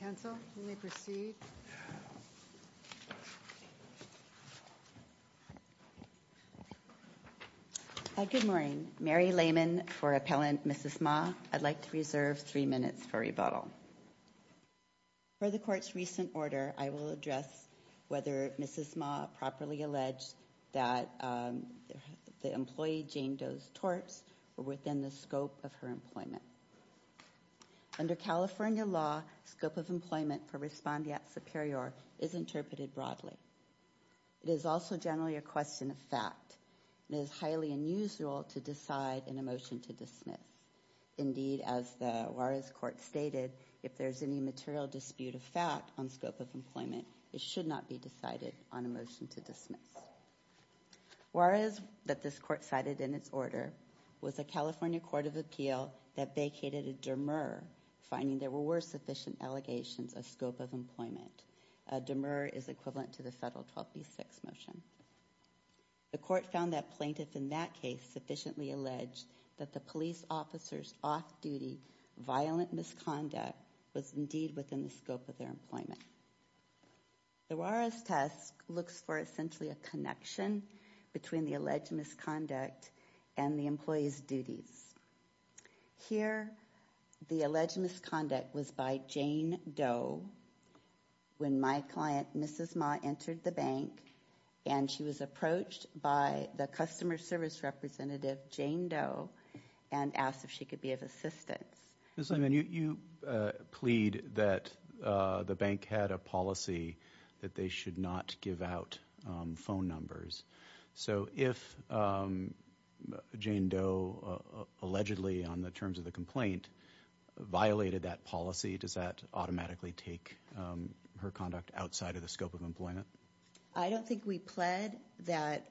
Counsel, you may proceed. Good morning. Mary Lehman for Appellant Mrs. Ma. I'd like to reserve three minutes for rebuttal. For the Court's recent order, I will address whether Mrs. Ma properly alleged that the employee Jane Doe's torts were within the scope of her employment. Under California law, scope of employment for respondeat superior is interpreted broadly. It is also generally a question of fact. It is highly unusual to decide in a motion to dismiss. Indeed, as the Juarez Court stated, if there is any material dispute of fact on scope of employment, it should not be decided on a motion to dismiss. Juarez, that this Court cited in its order, was a California Court of Appeal that vacated a demur finding there were sufficient allegations of scope of employment. A demur is equivalent to the subtle 12B6 motion. The Court found that plaintiff in that case sufficiently alleged that the police officer's off-duty violent misconduct was indeed within the scope of their employment. The Juarez test looks for essentially a connection between the alleged misconduct and the employee's duties. Here, the alleged misconduct was by Jane Doe when my client, Mrs. Ma, entered the bank and she was approached by the customer service representative, Jane Doe, and asked if she could be of assistance. Ms. Lehman, you plead that the bank had a policy that they should not give out phone numbers. So, if Jane Doe allegedly, on the terms of the complaint, violated that policy, does that automatically take her conduct outside of the scope of employment? I don't think we pled that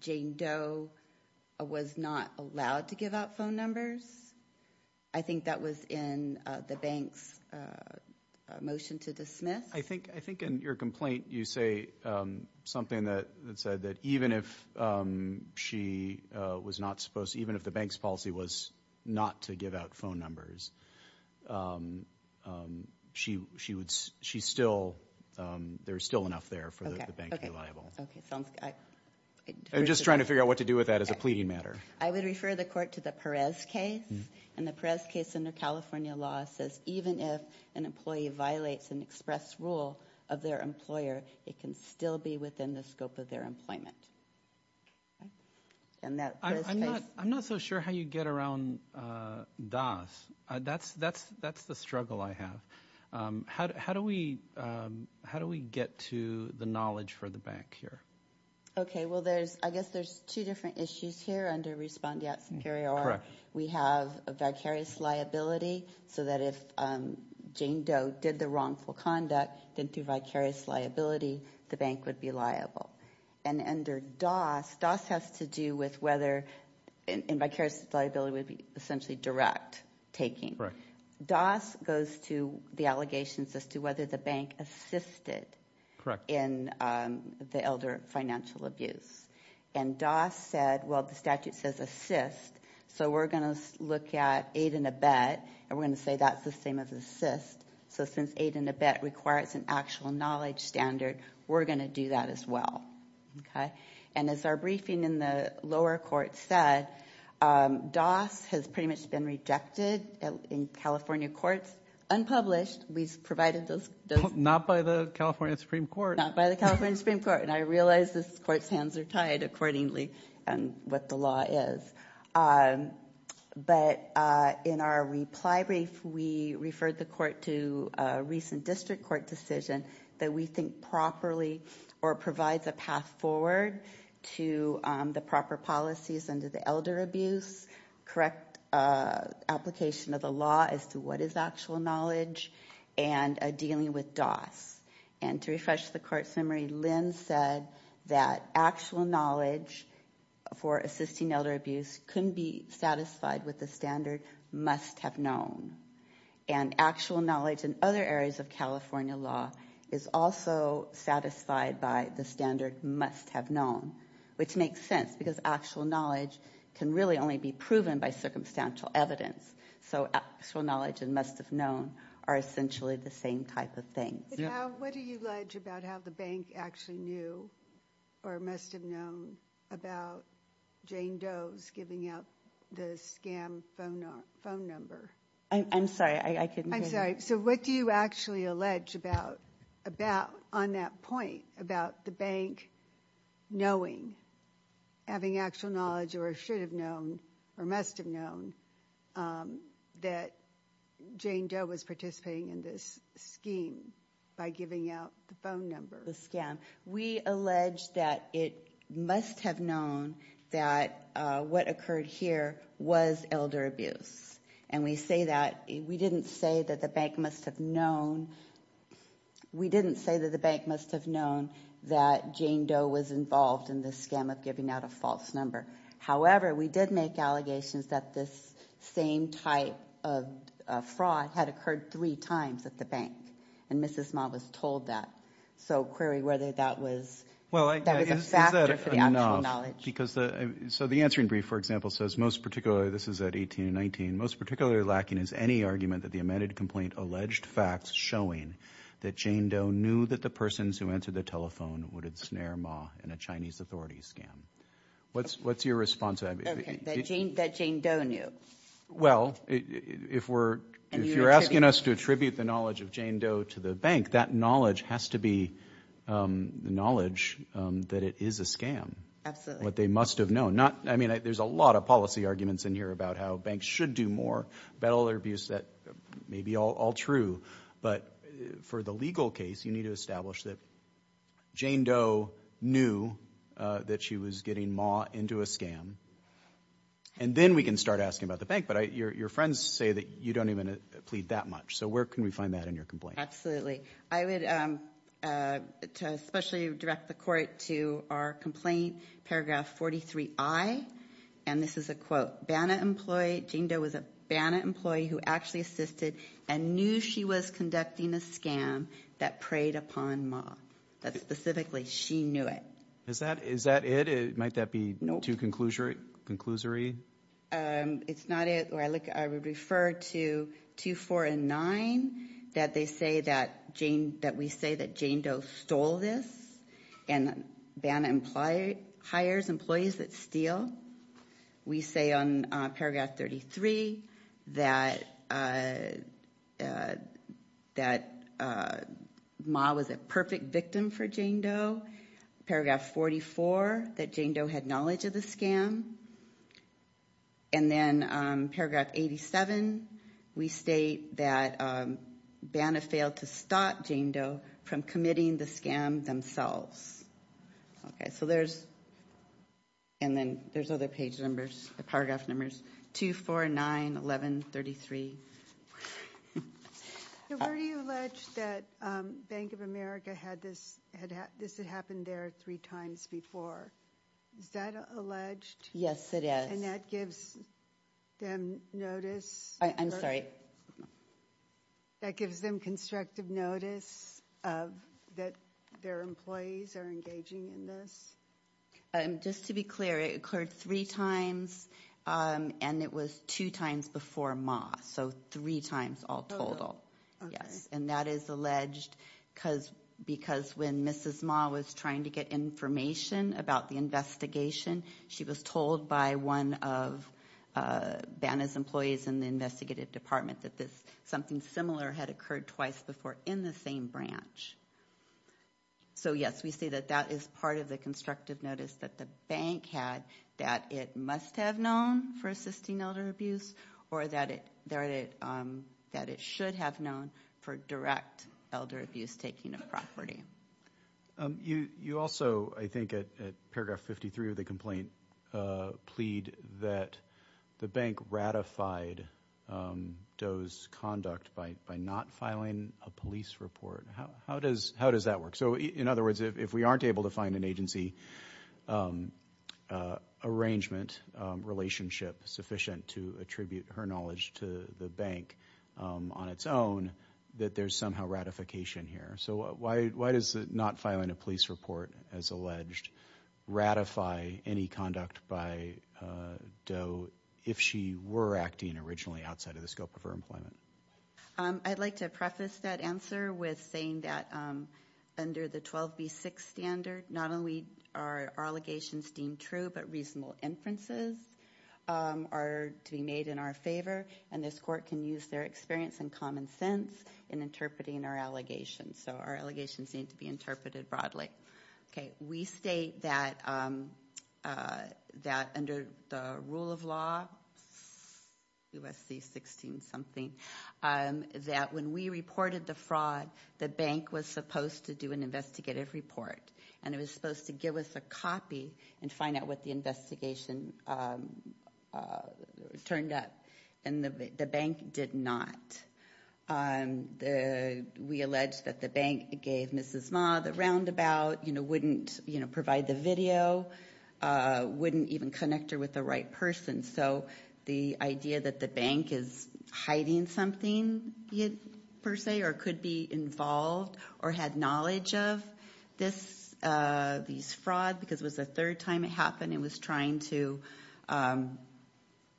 Jane Doe was not allowed to give out phone numbers. I think that was in the bank's motion to dismiss. I think in your complaint you say something that said that even if she was not supposed, even if the bank's policy was not to give out phone numbers, she still, there's still enough there for the bank to be liable. I'm just trying to figure out what to do with that as a pleading matter. I would refer the court to the Perez case, and the Perez case under California law says even if an employee violates an express rule of their employer, it can still be within the scope of their employment. I'm not so sure how you get around DAS. That's the struggle I have. How do we get to the knowledge for the bank here? Okay, well there's, I guess there's two different issues here under respondeat superior. We have a vicarious liability, so that if Jane Doe did the wrongful conduct, didn't do vicarious liability, the bank would be liable. And under DAS, DAS has to do with whether, and vicarious liability would be essentially direct taking. Correct. DAS goes to the allegations as to whether the bank assisted in the elder financial abuse. And DAS said, well the statute says assist, so we're going to look at aid and abet, and we're going to say that's the same as assist. So since aid and abet requires an actual knowledge standard, we're going to do that as well. Okay, and as our briefing in the lower court said, DAS has pretty much been rejected in California courts, unpublished. We've provided those. Not by the California Supreme Court. Not by the California Supreme Court, and I realize this court's hands are tied accordingly, what the law is. But in our reply brief, we referred the court to a recent district court decision that we think properly or provides a path forward to the proper policies under the elder abuse. Correct application of the law as to what is actual knowledge, and dealing with DAS. And to refresh the court's memory, Lynn said that actual knowledge for assisting elder abuse couldn't be satisfied with the standard must have known. And actual knowledge in other areas of California law is also satisfied by the standard must have known. Which makes sense, because actual knowledge can really only be proven by circumstantial evidence. So actual knowledge and must have known are essentially the same type of thing. What do you allege about how the bank actually knew or must have known about Jane Doe's giving out the scam phone number? I'm sorry, I couldn't hear that. I'm sorry, so what do you actually allege about, on that point, about the bank knowing, having actual knowledge or should have known or must have known that Jane Doe was participating in this scheme? By giving out the phone number. The scam. We allege that it must have known that what occurred here was elder abuse. And we say that, we didn't say that the bank must have known, we didn't say that the bank must have known that Jane Doe was involved in this scam of giving out a false number. However, we did make allegations that this same type of fraud had occurred three times at the bank. And Mrs. Ma was told that. So query whether that was a factor for the actual knowledge. So the answering brief, for example, says most particularly, this is at 18 and 19, most particularly lacking is any argument that the amended complaint alleged facts showing that Jane Doe knew that the persons who answered the telephone would ensnare Ma in a Chinese authority scam. What's your response to that? That Jane Doe knew. Well, if you're asking us to attribute the knowledge of Jane Doe to the bank, that knowledge has to be the knowledge that it is a scam. Absolutely. What they must have known. There's a lot of policy arguments in here about how banks should do more. Elder abuse, that may be all true. But for the legal case, you need to establish that Jane Doe knew that she was getting Ma into a scam. And then we can start asking about the bank. But your friends say that you don't even plead that much. So where can we find that in your complaint? Absolutely. I would especially direct the court to our complaint, paragraph 43I. And this is a quote. Banna employee, Jane Doe was a Banna employee who actually assisted and knew she was conducting a scam that preyed upon Ma. That specifically, she knew it. Is that it? Might that be too conclusory? It's not it. I would refer to 2, 4, and 9, that they say that we say that Jane Doe stole this and Banna hires employees that steal. We say on paragraph 33 that Ma was a perfect victim for Jane Doe. Paragraph 44, that Jane Doe had knowledge of the scam. And then paragraph 87, we state that Banna failed to stop Jane Doe from committing the scam themselves. Okay, so there's, and then there's other page numbers, the paragraph numbers, 2, 4, 9, 11, 33. So where do you allege that Bank of America had this, this had happened there three times before? Is that alleged? Yes, it is. And that gives them notice? I'm sorry? That gives them constructive notice that their employees are engaging in this? Just to be clear, it occurred three times, and it was two times before Ma. So three times all total, yes. And that is alleged because when Mrs. Ma was trying to get information about the investigation, she was told by one of Banna's employees in the investigative department that this, something similar had occurred twice before in the same branch. So, yes, we say that that is part of the constructive notice that the bank had, that it must have known for assisting elder abuse, or that it should have known for direct elder abuse taking of property. You also, I think, at paragraph 53 of the complaint, plead that the bank ratified Doe's conduct by not filing a police report. How does that work? So, in other words, if we aren't able to find an agency arrangement relationship sufficient to attribute her knowledge to the bank on its own, that there's somehow ratification here. So why does not filing a police report, as alleged, ratify any conduct by Doe if she were acting originally outside of the scope of her employment? I'd like to preface that answer with saying that under the 12B6 standard, not only are our allegations deemed true, but reasonable inferences are to be made in our favor, and this court can use their experience and common sense in interpreting our allegations. So our allegations need to be interpreted broadly. We state that under the rule of law, USC 16-something, that when we reported the fraud, the bank was supposed to do an investigative report, and it was supposed to give us a copy and find out what the investigation turned up, and the bank did not. We allege that the bank gave Mrs. Ma the roundabout, wouldn't provide the video, wouldn't even connect her with the right person. So the idea that the bank is hiding something, per se, or could be involved or had knowledge of this fraud because it was the third time it happened and was trying to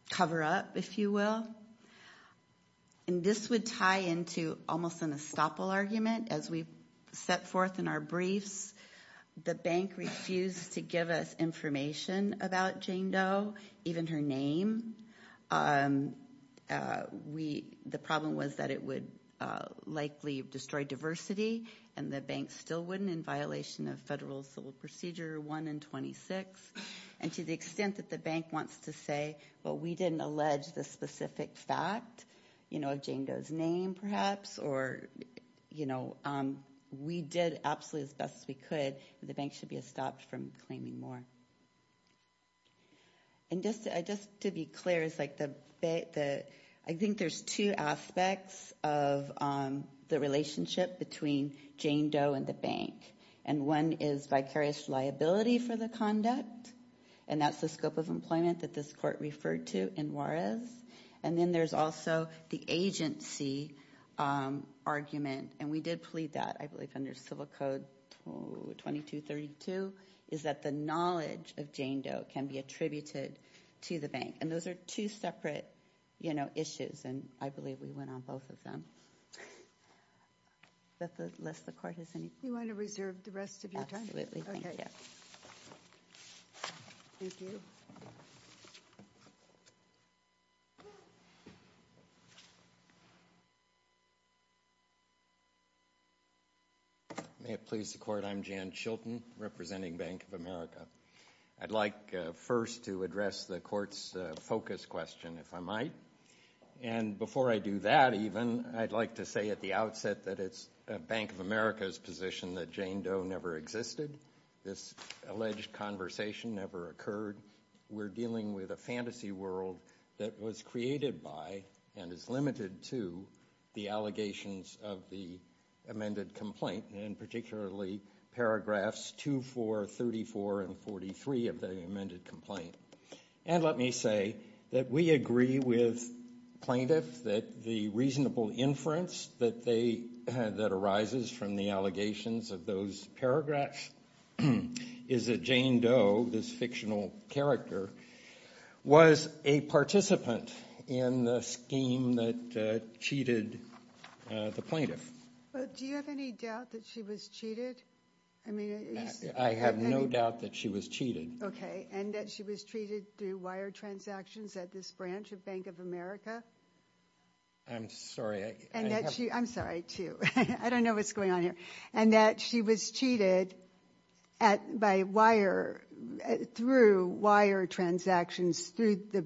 cover up, if you will. And this would tie into almost an estoppel argument. As we set forth in our briefs, the bank refused to give us information about Jane Doe, even her name. The problem was that it would likely destroy diversity, and the bank still wouldn't in violation of Federal Civil Procedure 1 and 26. And to the extent that the bank wants to say, well, we didn't allege this specific fact, you know, of Jane Doe's name, perhaps, or, you know, we did absolutely the best we could, the bank should be estopped from claiming more. And just to be clear, I think there's two aspects of the relationship between Jane Doe and the bank. And one is vicarious liability for the conduct, and that's the scope of employment that this court referred to in Juarez. And then there's also the agency argument, and we did plead that, I believe, under Civil Code 2232, is that the knowledge of Jane Doe can be attributed to the bank. And those are two separate, you know, issues, and I believe we went on both of them. But lest the court has any— You want to reserve the rest of your time? Absolutely. Thank you. Okay. Thank you. May it please the court, I'm Jan Chilton, representing Bank of America. I'd like first to address the court's focus question, if I might. And before I do that, even, I'd like to say at the outset that it's Bank of America's position that Jane Doe never existed. This alleged conversation never occurred. We're dealing with a fantasy world that was created by and is limited to the allegations of the amended complaint, and particularly paragraphs 2, 4, 34, and 43 of the amended complaint. And let me say that we agree with plaintiffs that the reasonable inference that arises from the allegations of those paragraphs is that Jane Doe, this fictional character, was a participant in the scheme that cheated the plaintiff. Do you have any doubt that she was cheated? I have no doubt that she was cheated. Okay. And that she was cheated through wire transactions at this branch of Bank of America? I'm sorry. I'm sorry, too. I don't know what's going on here. And that she was cheated through wire transactions through the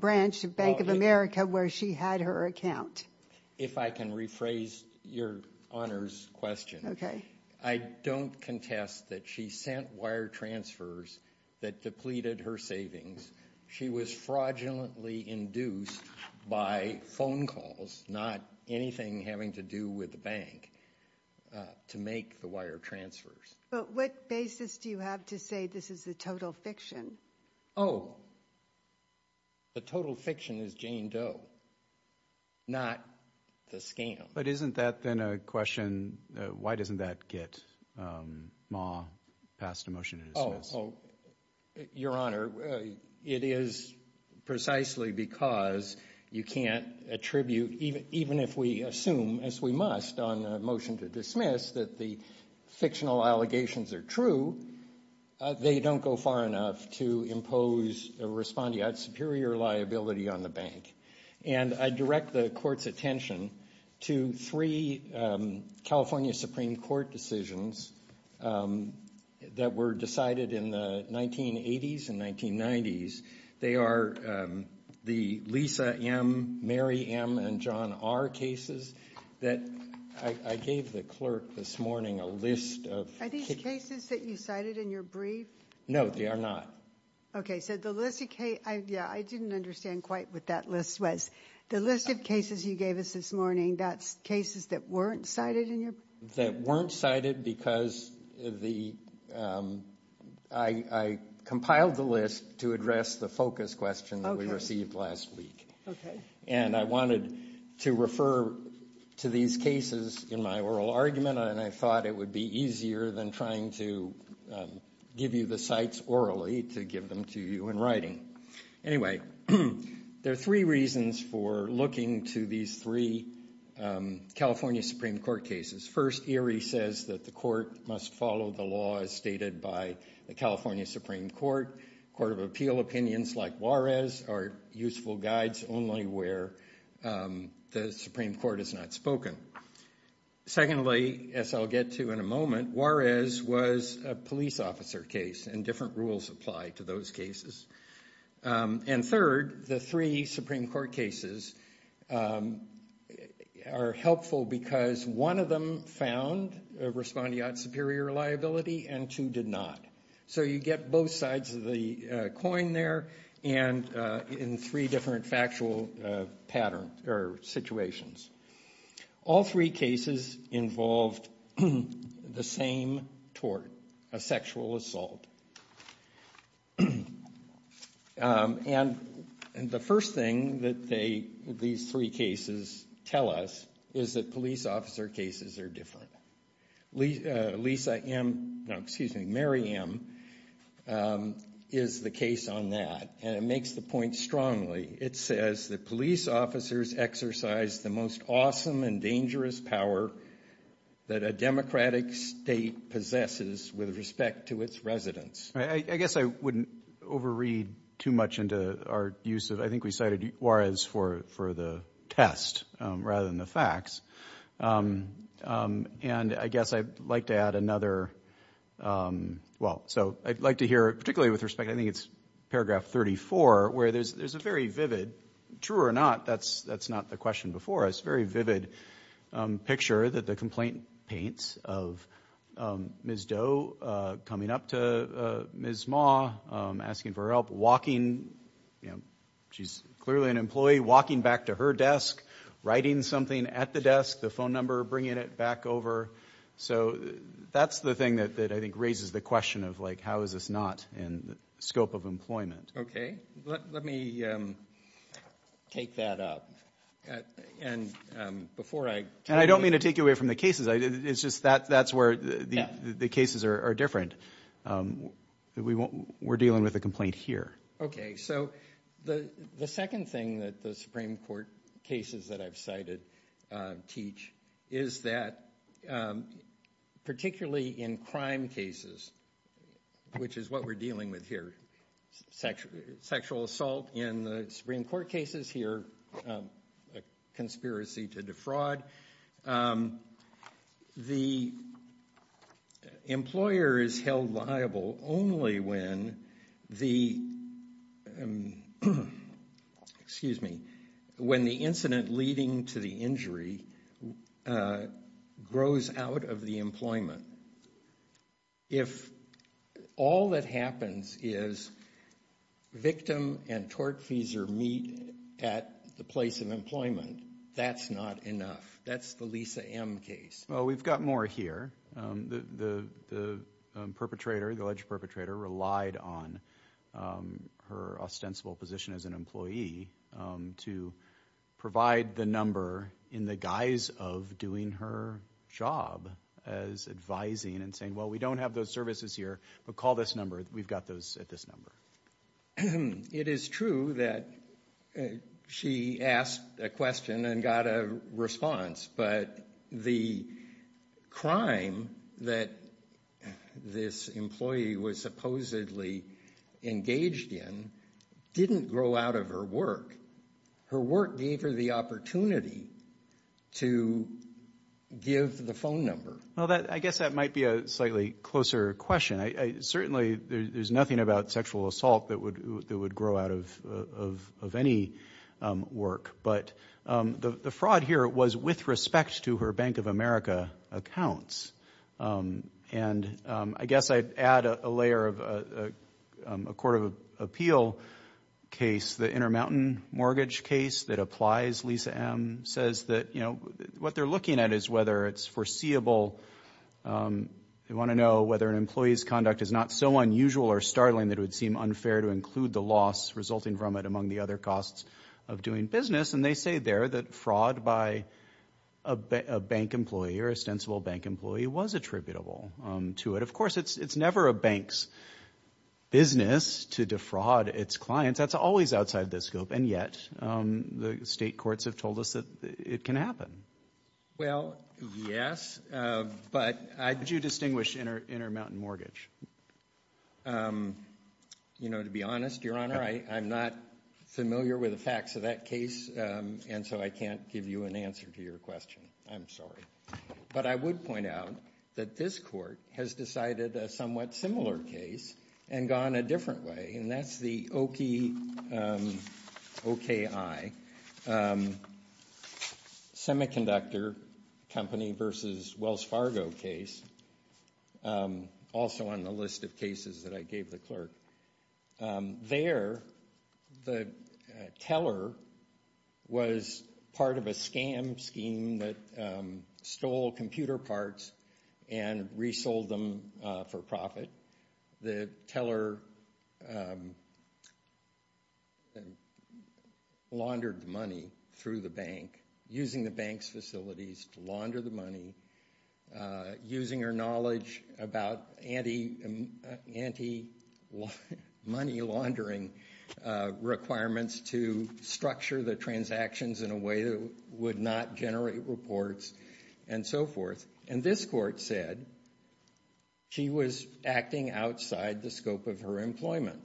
branch of Bank of America where she had her account? If I can rephrase your honors question. Okay. I don't contest that she sent wire transfers that depleted her savings. She was fraudulently induced by phone calls, not anything having to do with the bank, to make the wire transfers. But what basis do you have to say this is a total fiction? Oh, the total fiction is Jane Doe, not the scam. But isn't that then a question, why doesn't that get Maw passed a motion to dismiss? Oh, your honor, it is precisely because you can't attribute, even if we assume, as we must on a motion to dismiss, that the fictional allegations are true, they don't go far enough to impose a respondeat superior liability on the bank. And I direct the court's attention to three California Supreme Court decisions that were decided in the 1980s and 1990s. They are the Lisa M., Mary M., and John R. cases that I gave the clerk this morning a list of. Are these cases that you cited in your brief? No, they are not. Okay, so the list of cases, yeah, I didn't understand quite what that list was. The list of cases you gave us this morning, that's cases that weren't cited in your brief? That weren't cited because I compiled the list to address the focus question that we received last week. Okay. And I wanted to refer to these cases in my oral argument, and I thought it would be easier than trying to give you the cites orally to give them to you in writing. Anyway, there are three reasons for looking to these three California Supreme Court cases. First, Erie says that the court must follow the law as stated by the California Supreme Court. Court of Appeal opinions like Juarez are useful guides only where the Supreme Court has not spoken. Secondly, as I'll get to in a moment, Juarez was a police officer case, and different rules apply to those cases. And third, the three Supreme Court cases are helpful because one of them found respondeat superior liability and two did not. So you get both sides of the coin there in three different factual situations. All three cases involved the same tort, a sexual assault. And the first thing that these three cases tell us is that police officer cases are different. Lisa M. No, excuse me, Mary M. is the case on that, and it makes the point strongly. It says that police officers exercise the most awesome and dangerous power that a democratic state possesses with respect to its residents. I guess I wouldn't overread too much into our use of, I think we cited Juarez for the test rather than the facts. And I guess I'd like to add another, well, so I'd like to hear, particularly with respect, I think it's paragraph 34, where there's a very vivid, true or not, that's not the question before us, very vivid picture that the complaint paints of Ms. Doe coming up to Ms. Ma asking for her help, walking, you know, she's clearly an employee, walking back to her desk, writing something at the desk, the phone number, bringing it back over. So that's the thing that I think raises the question of, like, how is this not in the scope of employment. Okay. Let me take that up. And before I – And I don't mean to take you away from the cases. It's just that's where the cases are different. We're dealing with a complaint here. Okay. So the second thing that the Supreme Court cases that I've cited teach is that particularly in crime cases, which is what we're dealing with here, sexual assault in the Supreme Court cases here, conspiracy to defraud, the employer is held liable only when the – excuse me – when the incident leading to the injury grows out of the employment. If all that happens is victim and tortfeasor meet at the place of employment, that's not enough. That's the Lisa M. case. Well, we've got more here. The perpetrator, the alleged perpetrator, relied on her ostensible position as an employee to provide the number in the guise of doing her job as advising and saying, well, we don't have those services here, but call this number. We've got those at this number. It is true that she asked a question and got a response, but the crime that this employee was supposedly engaged in didn't grow out of her work. Her work gave her the opportunity to give the phone number. Well, I guess that might be a slightly closer question. Certainly, there's nothing about sexual assault that would grow out of any work. But the fraud here was with respect to her Bank of America accounts. And I guess I'd add a layer of a court of appeal case, the Intermountain Mortgage case that applies Lisa M. says that what they're looking at is whether it's foreseeable. They want to know whether an employee's conduct is not so unusual or startling that it would seem unfair to include the loss resulting from it among the other costs of doing business. And they say there that fraud by a bank employee or ostensible bank employee was attributable to it. Of course, it's never a bank's business to defraud its clients. That's always outside the scope. And yet the state courts have told us that it can happen. Well, yes, but I do distinguish Intermountain Mortgage. You know, to be honest, Your Honor, I'm not familiar with the facts of that case. And so I can't give you an answer to your question. I'm sorry. But I would point out that this court has decided a somewhat similar case and gone a different way. And that's the OKI, semiconductor company versus Wells Fargo case, also on the list of cases that I gave the clerk. There, the teller was part of a scam scheme that stole computer parts and resold them for profit. The teller laundered the money through the bank, using the bank's facilities to launder the money, using her knowledge about anti-money laundering requirements to structure the transactions in a way that would not generate reports and so forth. And this court said she was acting outside the scope of her employment.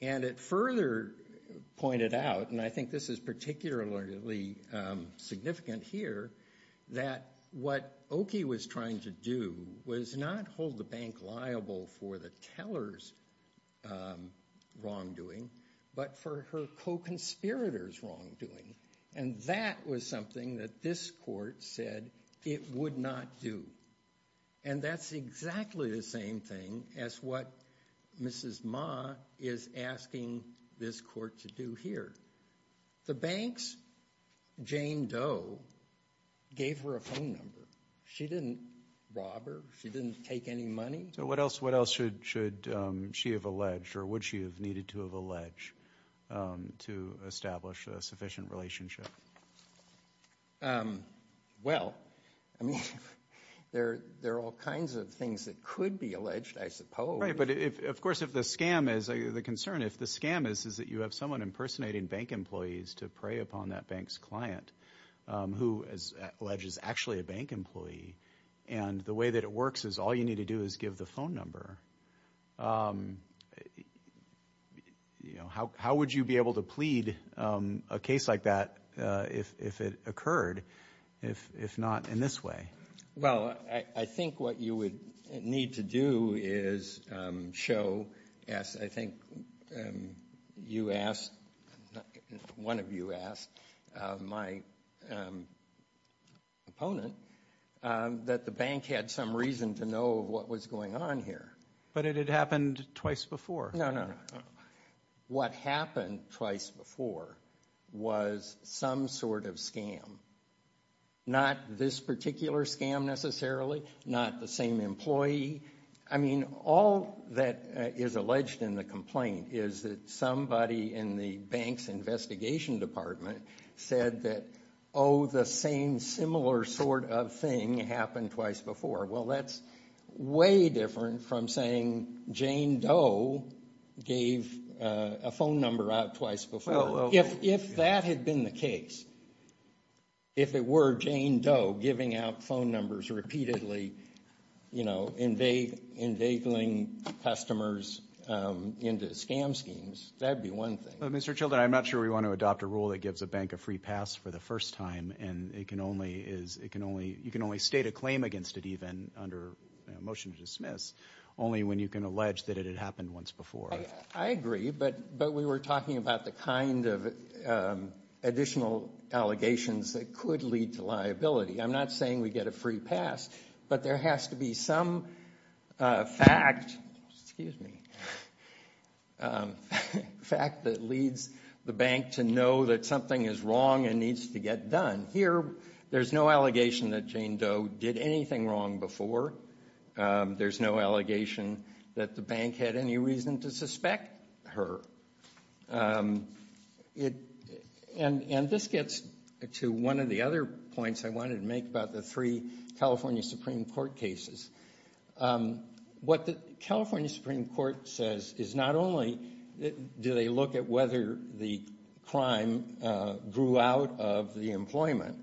And it further pointed out, and I think this is particularly significant here, that what OKI was trying to do was not hold the bank liable for the teller's wrongdoing, but for her co-conspirator's wrongdoing. And that was something that this court said it would not do. And that's exactly the same thing as what Mrs. Ma is asking this court to do here. The bank's Jane Doe gave her a phone number. She didn't rob her. She didn't take any money. So what else should she have alleged or would she have needed to have alleged to establish a sufficient relationship? Well, I mean, there are all kinds of things that could be alleged, I suppose. Right. But, of course, if the scam is, the concern if the scam is that you have someone impersonating bank employees to prey upon that bank's client, who, as alleged, is actually a bank employee, and the way that it works is all you need to do is give the phone number, how would you be able to plead a case like that if it occurred, if not in this way? Well, I think what you would need to do is show, as I think you asked, one of you asked, my opponent, that the bank had some reason to know what was going on here. But it had happened twice before. No, no. What happened twice before was some sort of scam. Not this particular scam necessarily, not the same employee. I mean, all that is alleged in the complaint is that somebody in the bank's investigation department said that, oh, the same similar sort of thing happened twice before. Well, that's way different from saying Jane Doe gave a phone number out twice before. If that had been the case, if it were Jane Doe giving out phone numbers repeatedly, you know, invading customers into scam schemes, that would be one thing. Mr. Children, I'm not sure we want to adopt a rule that gives a bank a free pass for the first time, and you can only state a claim against it even under a motion to dismiss, only when you can allege that it had happened once before. I agree, but we were talking about the kind of additional allegations that could lead to liability. I'm not saying we get a free pass, but there has to be some fact that leads the bank to know that something is wrong and needs to get done. Here, there's no allegation that Jane Doe did anything wrong before. There's no allegation that the bank had any reason to suspect her. And this gets to one of the other points I wanted to make about the three California Supreme Court cases. What the California Supreme Court says is not only do they look at whether the crime grew out of the employment,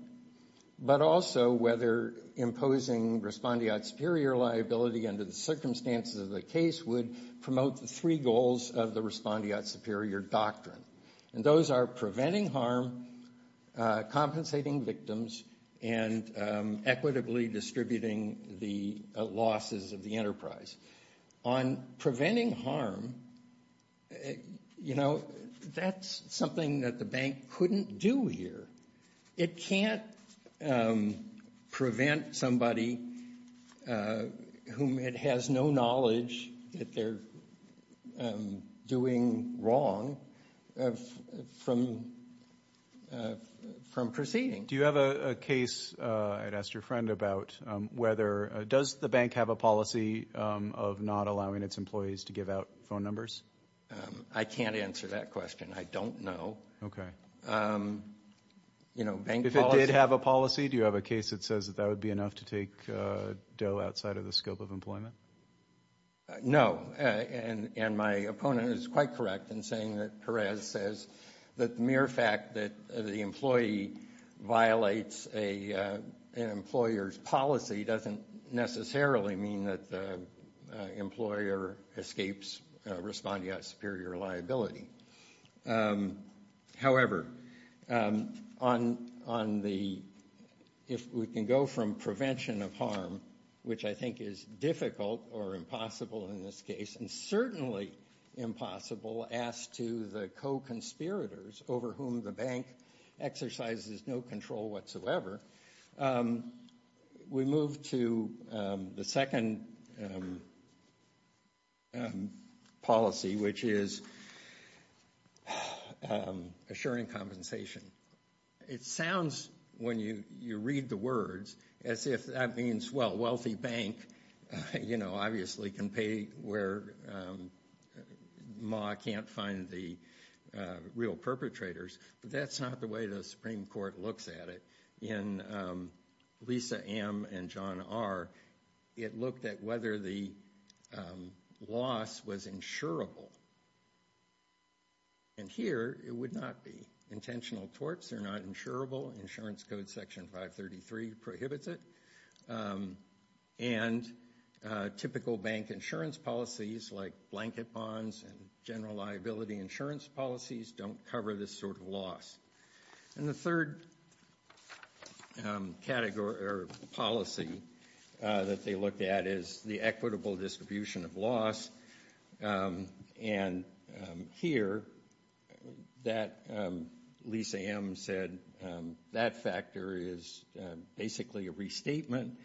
but also whether imposing respondeat superior liability under the circumstances of the case would promote the three goals of the respondeat superior doctrine. And those are preventing harm, compensating victims, and equitably distributing the losses of the enterprise. On preventing harm, you know, that's something that the bank couldn't do here. It can't prevent somebody whom it has no knowledge that they're doing wrong from proceeding. Do you have a case, I'd asked your friend about, does the bank have a policy of not allowing its employees to give out phone numbers? I can't answer that question. I don't know. Okay. You know, bank policy. If it did have a policy, do you have a case that says that that would be enough to take Doe outside of the scope of employment? No. And my opponent is quite correct in saying that Perez says that the mere fact that the employee violates an employer's policy doesn't necessarily mean that the employer escapes respondeat superior liability. However, if we can go from prevention of harm, which I think is difficult or impossible in this case, and certainly impossible as to the co-conspirators over whom the bank exercises no control whatsoever, we move to the second policy, which is assuring compensation. It sounds, when you read the words, as if that means, well, wealthy bank, you know, obviously can pay where MA can't find the real perpetrators. But that's not the way the Supreme Court looks at it. In Lisa M. and John R., it looked at whether the loss was insurable. And here, it would not be. Intentional torts are not insurable. Insurance Code Section 533 prohibits it. And typical bank insurance policies like blanket bonds and general liability insurance policies don't cover this sort of loss. And the third policy that they looked at is the equitable distribution of loss. And here, Lisa M. said that factor is basically a restatement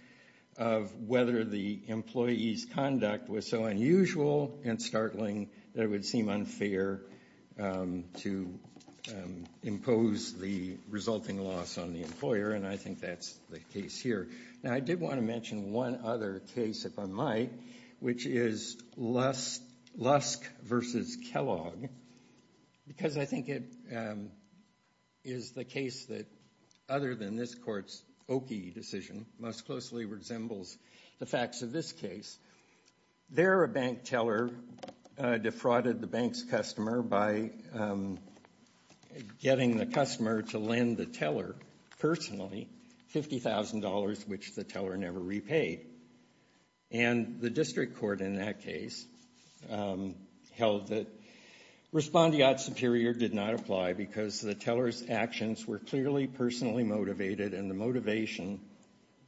of whether the employee's conduct was so unusual and startling that it would seem unfair to impose the resulting loss on the employer. And I think that's the case here. Now, I did want to mention one other case, if I might, which is Lusk v. Kellogg, because I think it is the case that, other than this Court's Oki decision, most closely resembles the facts of this case. There, a bank teller defrauded the bank's customer by getting the customer to lend the teller personally $50,000, which the teller never repaid. And the district court in that case held that respondeat superior did not apply because the teller's actions were clearly personally motivated and the motivation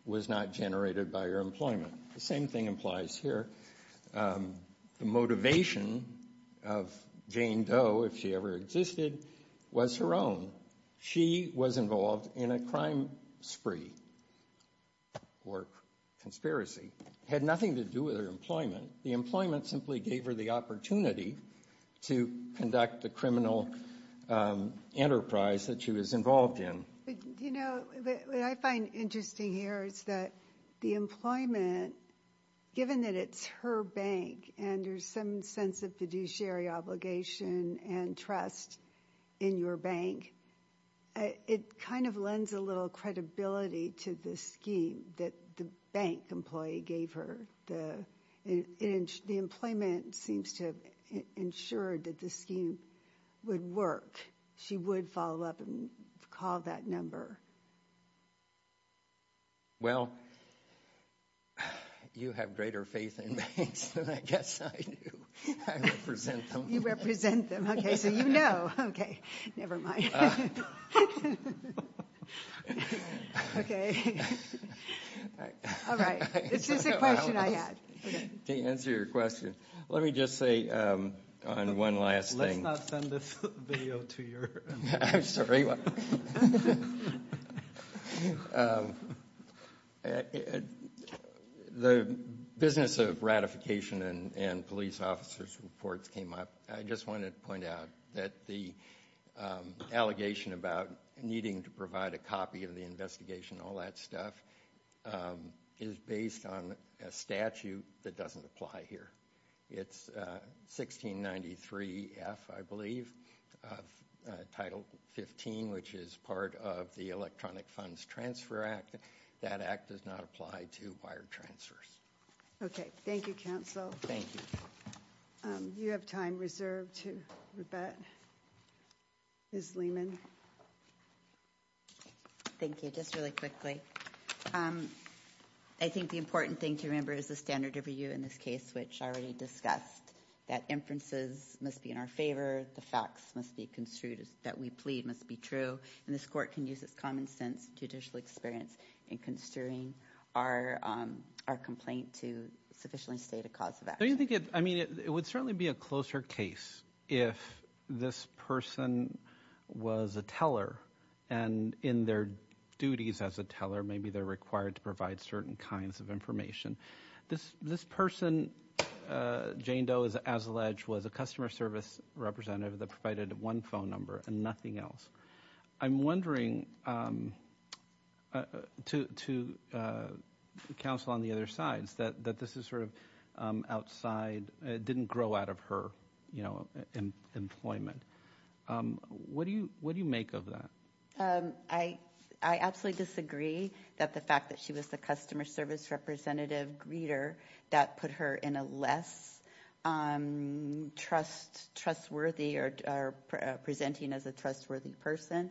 was not generated by her employment. The same thing applies here. The motivation of Jane Doe, if she ever existed, was her own. She was involved in a crime spree or conspiracy. It had nothing to do with her employment. The employment simply gave her the opportunity to conduct the criminal enterprise that she was involved in. What I find interesting here is that the employment, given that it's her bank and there's some sense of fiduciary obligation and trust in your bank, it kind of lends a little credibility to the scheme that the bank employee gave her. The employment seems to have ensured that the scheme would work. She would follow up and call that number. Well, you have greater faith in banks than I guess I do. I represent them. You represent them. Okay, so you know. Okay, never mind. Okay. All right. It's just a question I had. To answer your question, let me just say one last thing. Please do not send this video to your employees. I'm sorry. The business of ratification and police officer's reports came up. I just wanted to point out that the allegation about needing to provide a copy of the investigation, all that stuff, is based on a statute that doesn't apply here. It's 1693F, I believe, of Title 15, which is part of the Electronic Funds Transfer Act. That act does not apply to wire transfers. Okay. Thank you, counsel. Thank you. You have time reserved to rebut. Ms. Lehman. Thank you. Just really quickly. I think the important thing to remember is the standard of review in this case, which I already discussed, that inferences must be in our favor, the facts must be construed that we plead must be true, and this court can use its common sense judicial experience in construing our complaint to sufficiently state a cause of action. It would certainly be a closer case if this person was a teller and in their duties as a teller, maybe they're required to provide certain kinds of information. This person, Jane Doe, as alleged, was a customer service representative that provided one phone number and nothing else. I'm wondering, to counsel on the other side, that this is sort of outside, didn't grow out of her employment. What do you make of that? I absolutely disagree that the fact that she was the customer service representative greeter, that put her in a less trustworthy or presenting as a trustworthy person.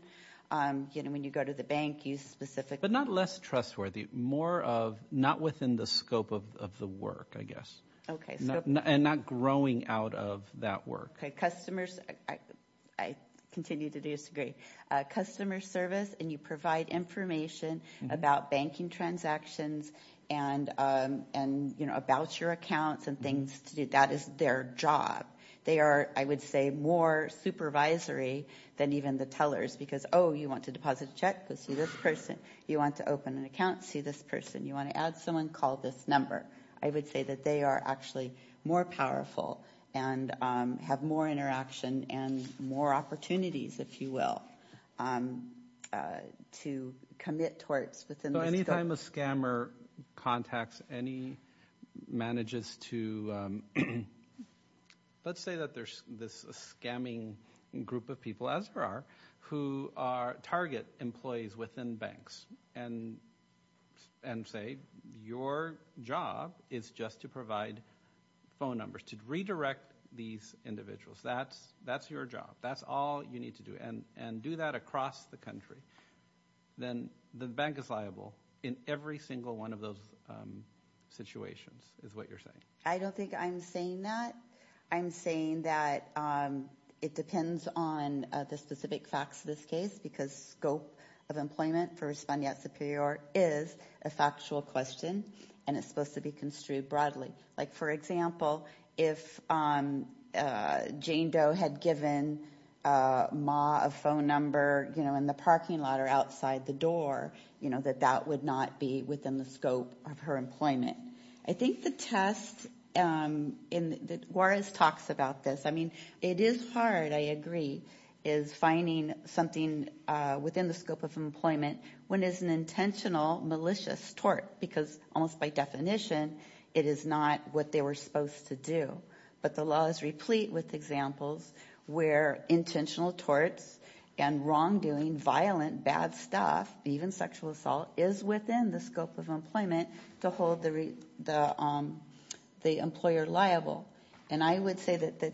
You know, when you go to the bank, you specifically. But not less trustworthy. More of not within the scope of the work, I guess. Okay. And not growing out of that work. Okay. Customers. I continue to disagree. Customer service and you provide information about banking transactions and, you know, about your accounts and things to do. That is their job. They are, I would say, more supervisory than even the tellers because, oh, you want to deposit a check? Go see this person. You want to open an account? See this person. You want to add someone? Call this number. I would say that they are actually more powerful and have more interaction and more opportunities, if you will, to commit towards. So any time a scammer contacts any managers to, let's say that there's this scamming group of people, as there are, who target employees within banks and say, your job is just to provide phone numbers, to redirect these individuals. That's your job. That's all you need to do. And do that across the country. Then the bank is liable in every single one of those situations is what you're saying. I don't think I'm saying that. I'm saying that it depends on the specific facts of this case because scope of employment for responding at Superior is a factual question, and it's supposed to be construed broadly. Like, for example, if Jane Doe had given Ma a phone number, you know, in the parking lot or outside the door, you know, that that would not be within the scope of her employment. I think the test, and Juarez talks about this. I mean, it is hard, I agree, is finding something within the scope of employment when it's an intentional malicious tort because almost by definition it is not what they were supposed to do. But the law is replete with examples where intentional torts and wrongdoing, violent, bad stuff, even sexual assault is within the scope of employment to hold the employer liable. And I would say that the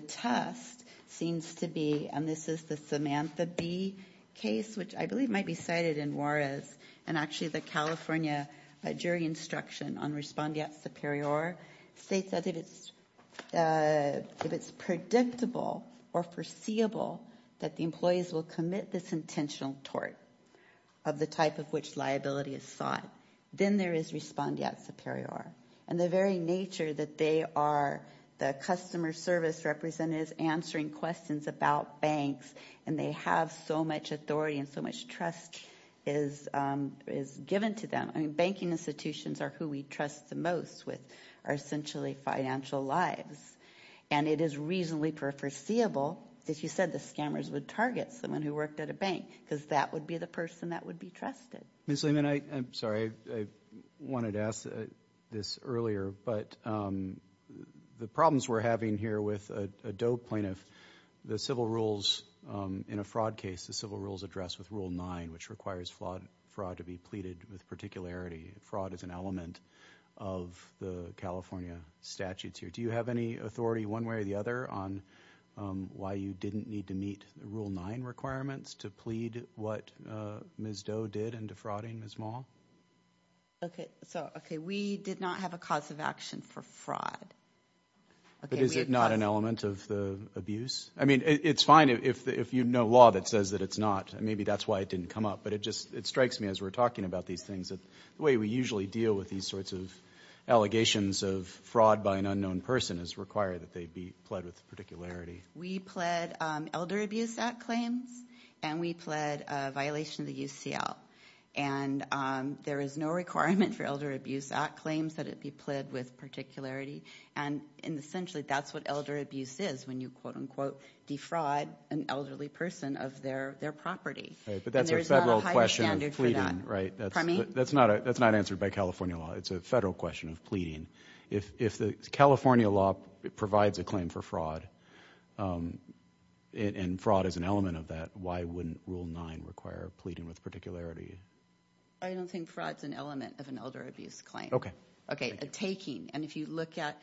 test seems to be, and this is the Samantha Bee case, which I believe might be cited in Juarez, and actually the California jury instruction on responding at Superior states that if it's predictable or foreseeable that the employees will commit this intentional tort of the type of which liability is sought, then there is responding at Superior. And the very nature that they are the customer service representatives answering questions about banks, and they have so much authority and so much trust is given to them. I mean, banking institutions are who we trust the most with our essentially financial lives, and it is reasonably foreseeable that you said the scammers would target someone who worked at a bank because that would be the person that would be trusted. Ms. Lehman, I'm sorry, I wanted to ask this earlier, but the problems we're having here with a DOE plaintiff, the civil rules in a fraud case, the civil rules address with Rule 9, which requires fraud to be pleaded with particularity. Fraud is an element of the California statutes here. Do you have any authority one way or the other on why you didn't need to meet the Rule 9 requirements to plead what Ms. Doe did in defrauding Ms. Mahl? Okay, so we did not have a cause of action for fraud. But is it not an element of the abuse? I mean, it's fine if you know law that says that it's not. Maybe that's why it didn't come up, but it strikes me as we're talking about these things that the way we usually deal with these sorts of allegations of fraud by an unknown person is require that they be pled with particularity. We pled Elder Abuse Act claims, and we pled a violation of the UCL. And there is no requirement for Elder Abuse Act claims that it be pled with particularity, and essentially that's what elder abuse is when you, quote, unquote, defraud an elderly person of their property. Right, but that's a federal question of pleading, right? That's not answered by California law. It's a federal question of pleading. If the California law provides a claim for fraud, and fraud is an element of that, why wouldn't Rule 9 require pleading with particularity? I don't think fraud's an element of an elder abuse claim. Okay. Okay, a taking, and if you look at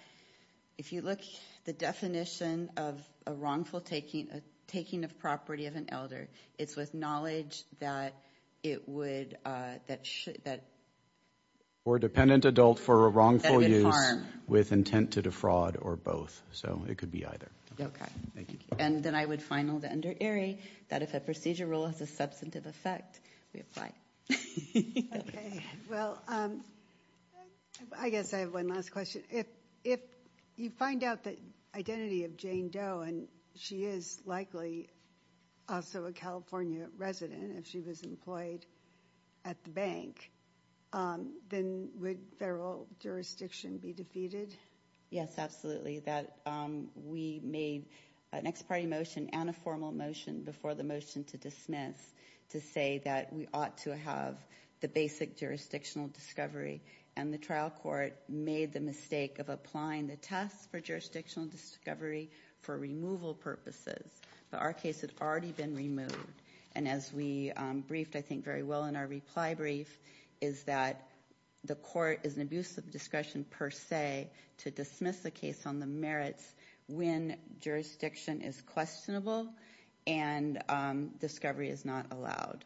the definition of a wrongful taking, a taking of property of an elder, it's with knowledge that it would, that should, that. Or dependent adult for a wrongful use. With intent to defraud or both. So it could be either. Okay. Thank you. And then I would final that under ERI that if a procedure rule has a substantive effect, we apply. Okay, well, I guess I have one last question. If you find out the identity of Jane Doe, and she is likely also a California resident, if she was employed at the bank, then would federal jurisdiction be defeated? Yes, absolutely. That we made an ex parte motion and a formal motion before the motion to dismiss to say that we ought to have the basic jurisdictional discovery, and the trial court made the mistake of applying the test for jurisdictional discovery for removal purposes. But our case had already been removed. And as we briefed, I think, very well in our reply brief, is that the court is an abuse of discretion per se to dismiss the case on the merits when jurisdiction is questionable and discovery is not allowed.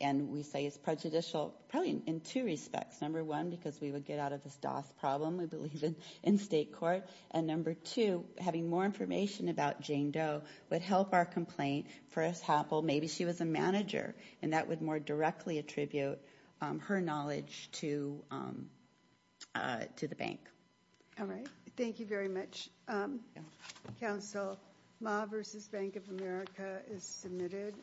And we say it's prejudicial probably in two respects. Number one, because we would get out of this DOS problem, we believe, in state court. And number two, having more information about Jane Doe would help our complaint. For us, Happel, maybe she was a manager, and that would more directly attribute her knowledge to the bank. All right. Thank you very much. Counsel, Ma versus Bank of America is submitted.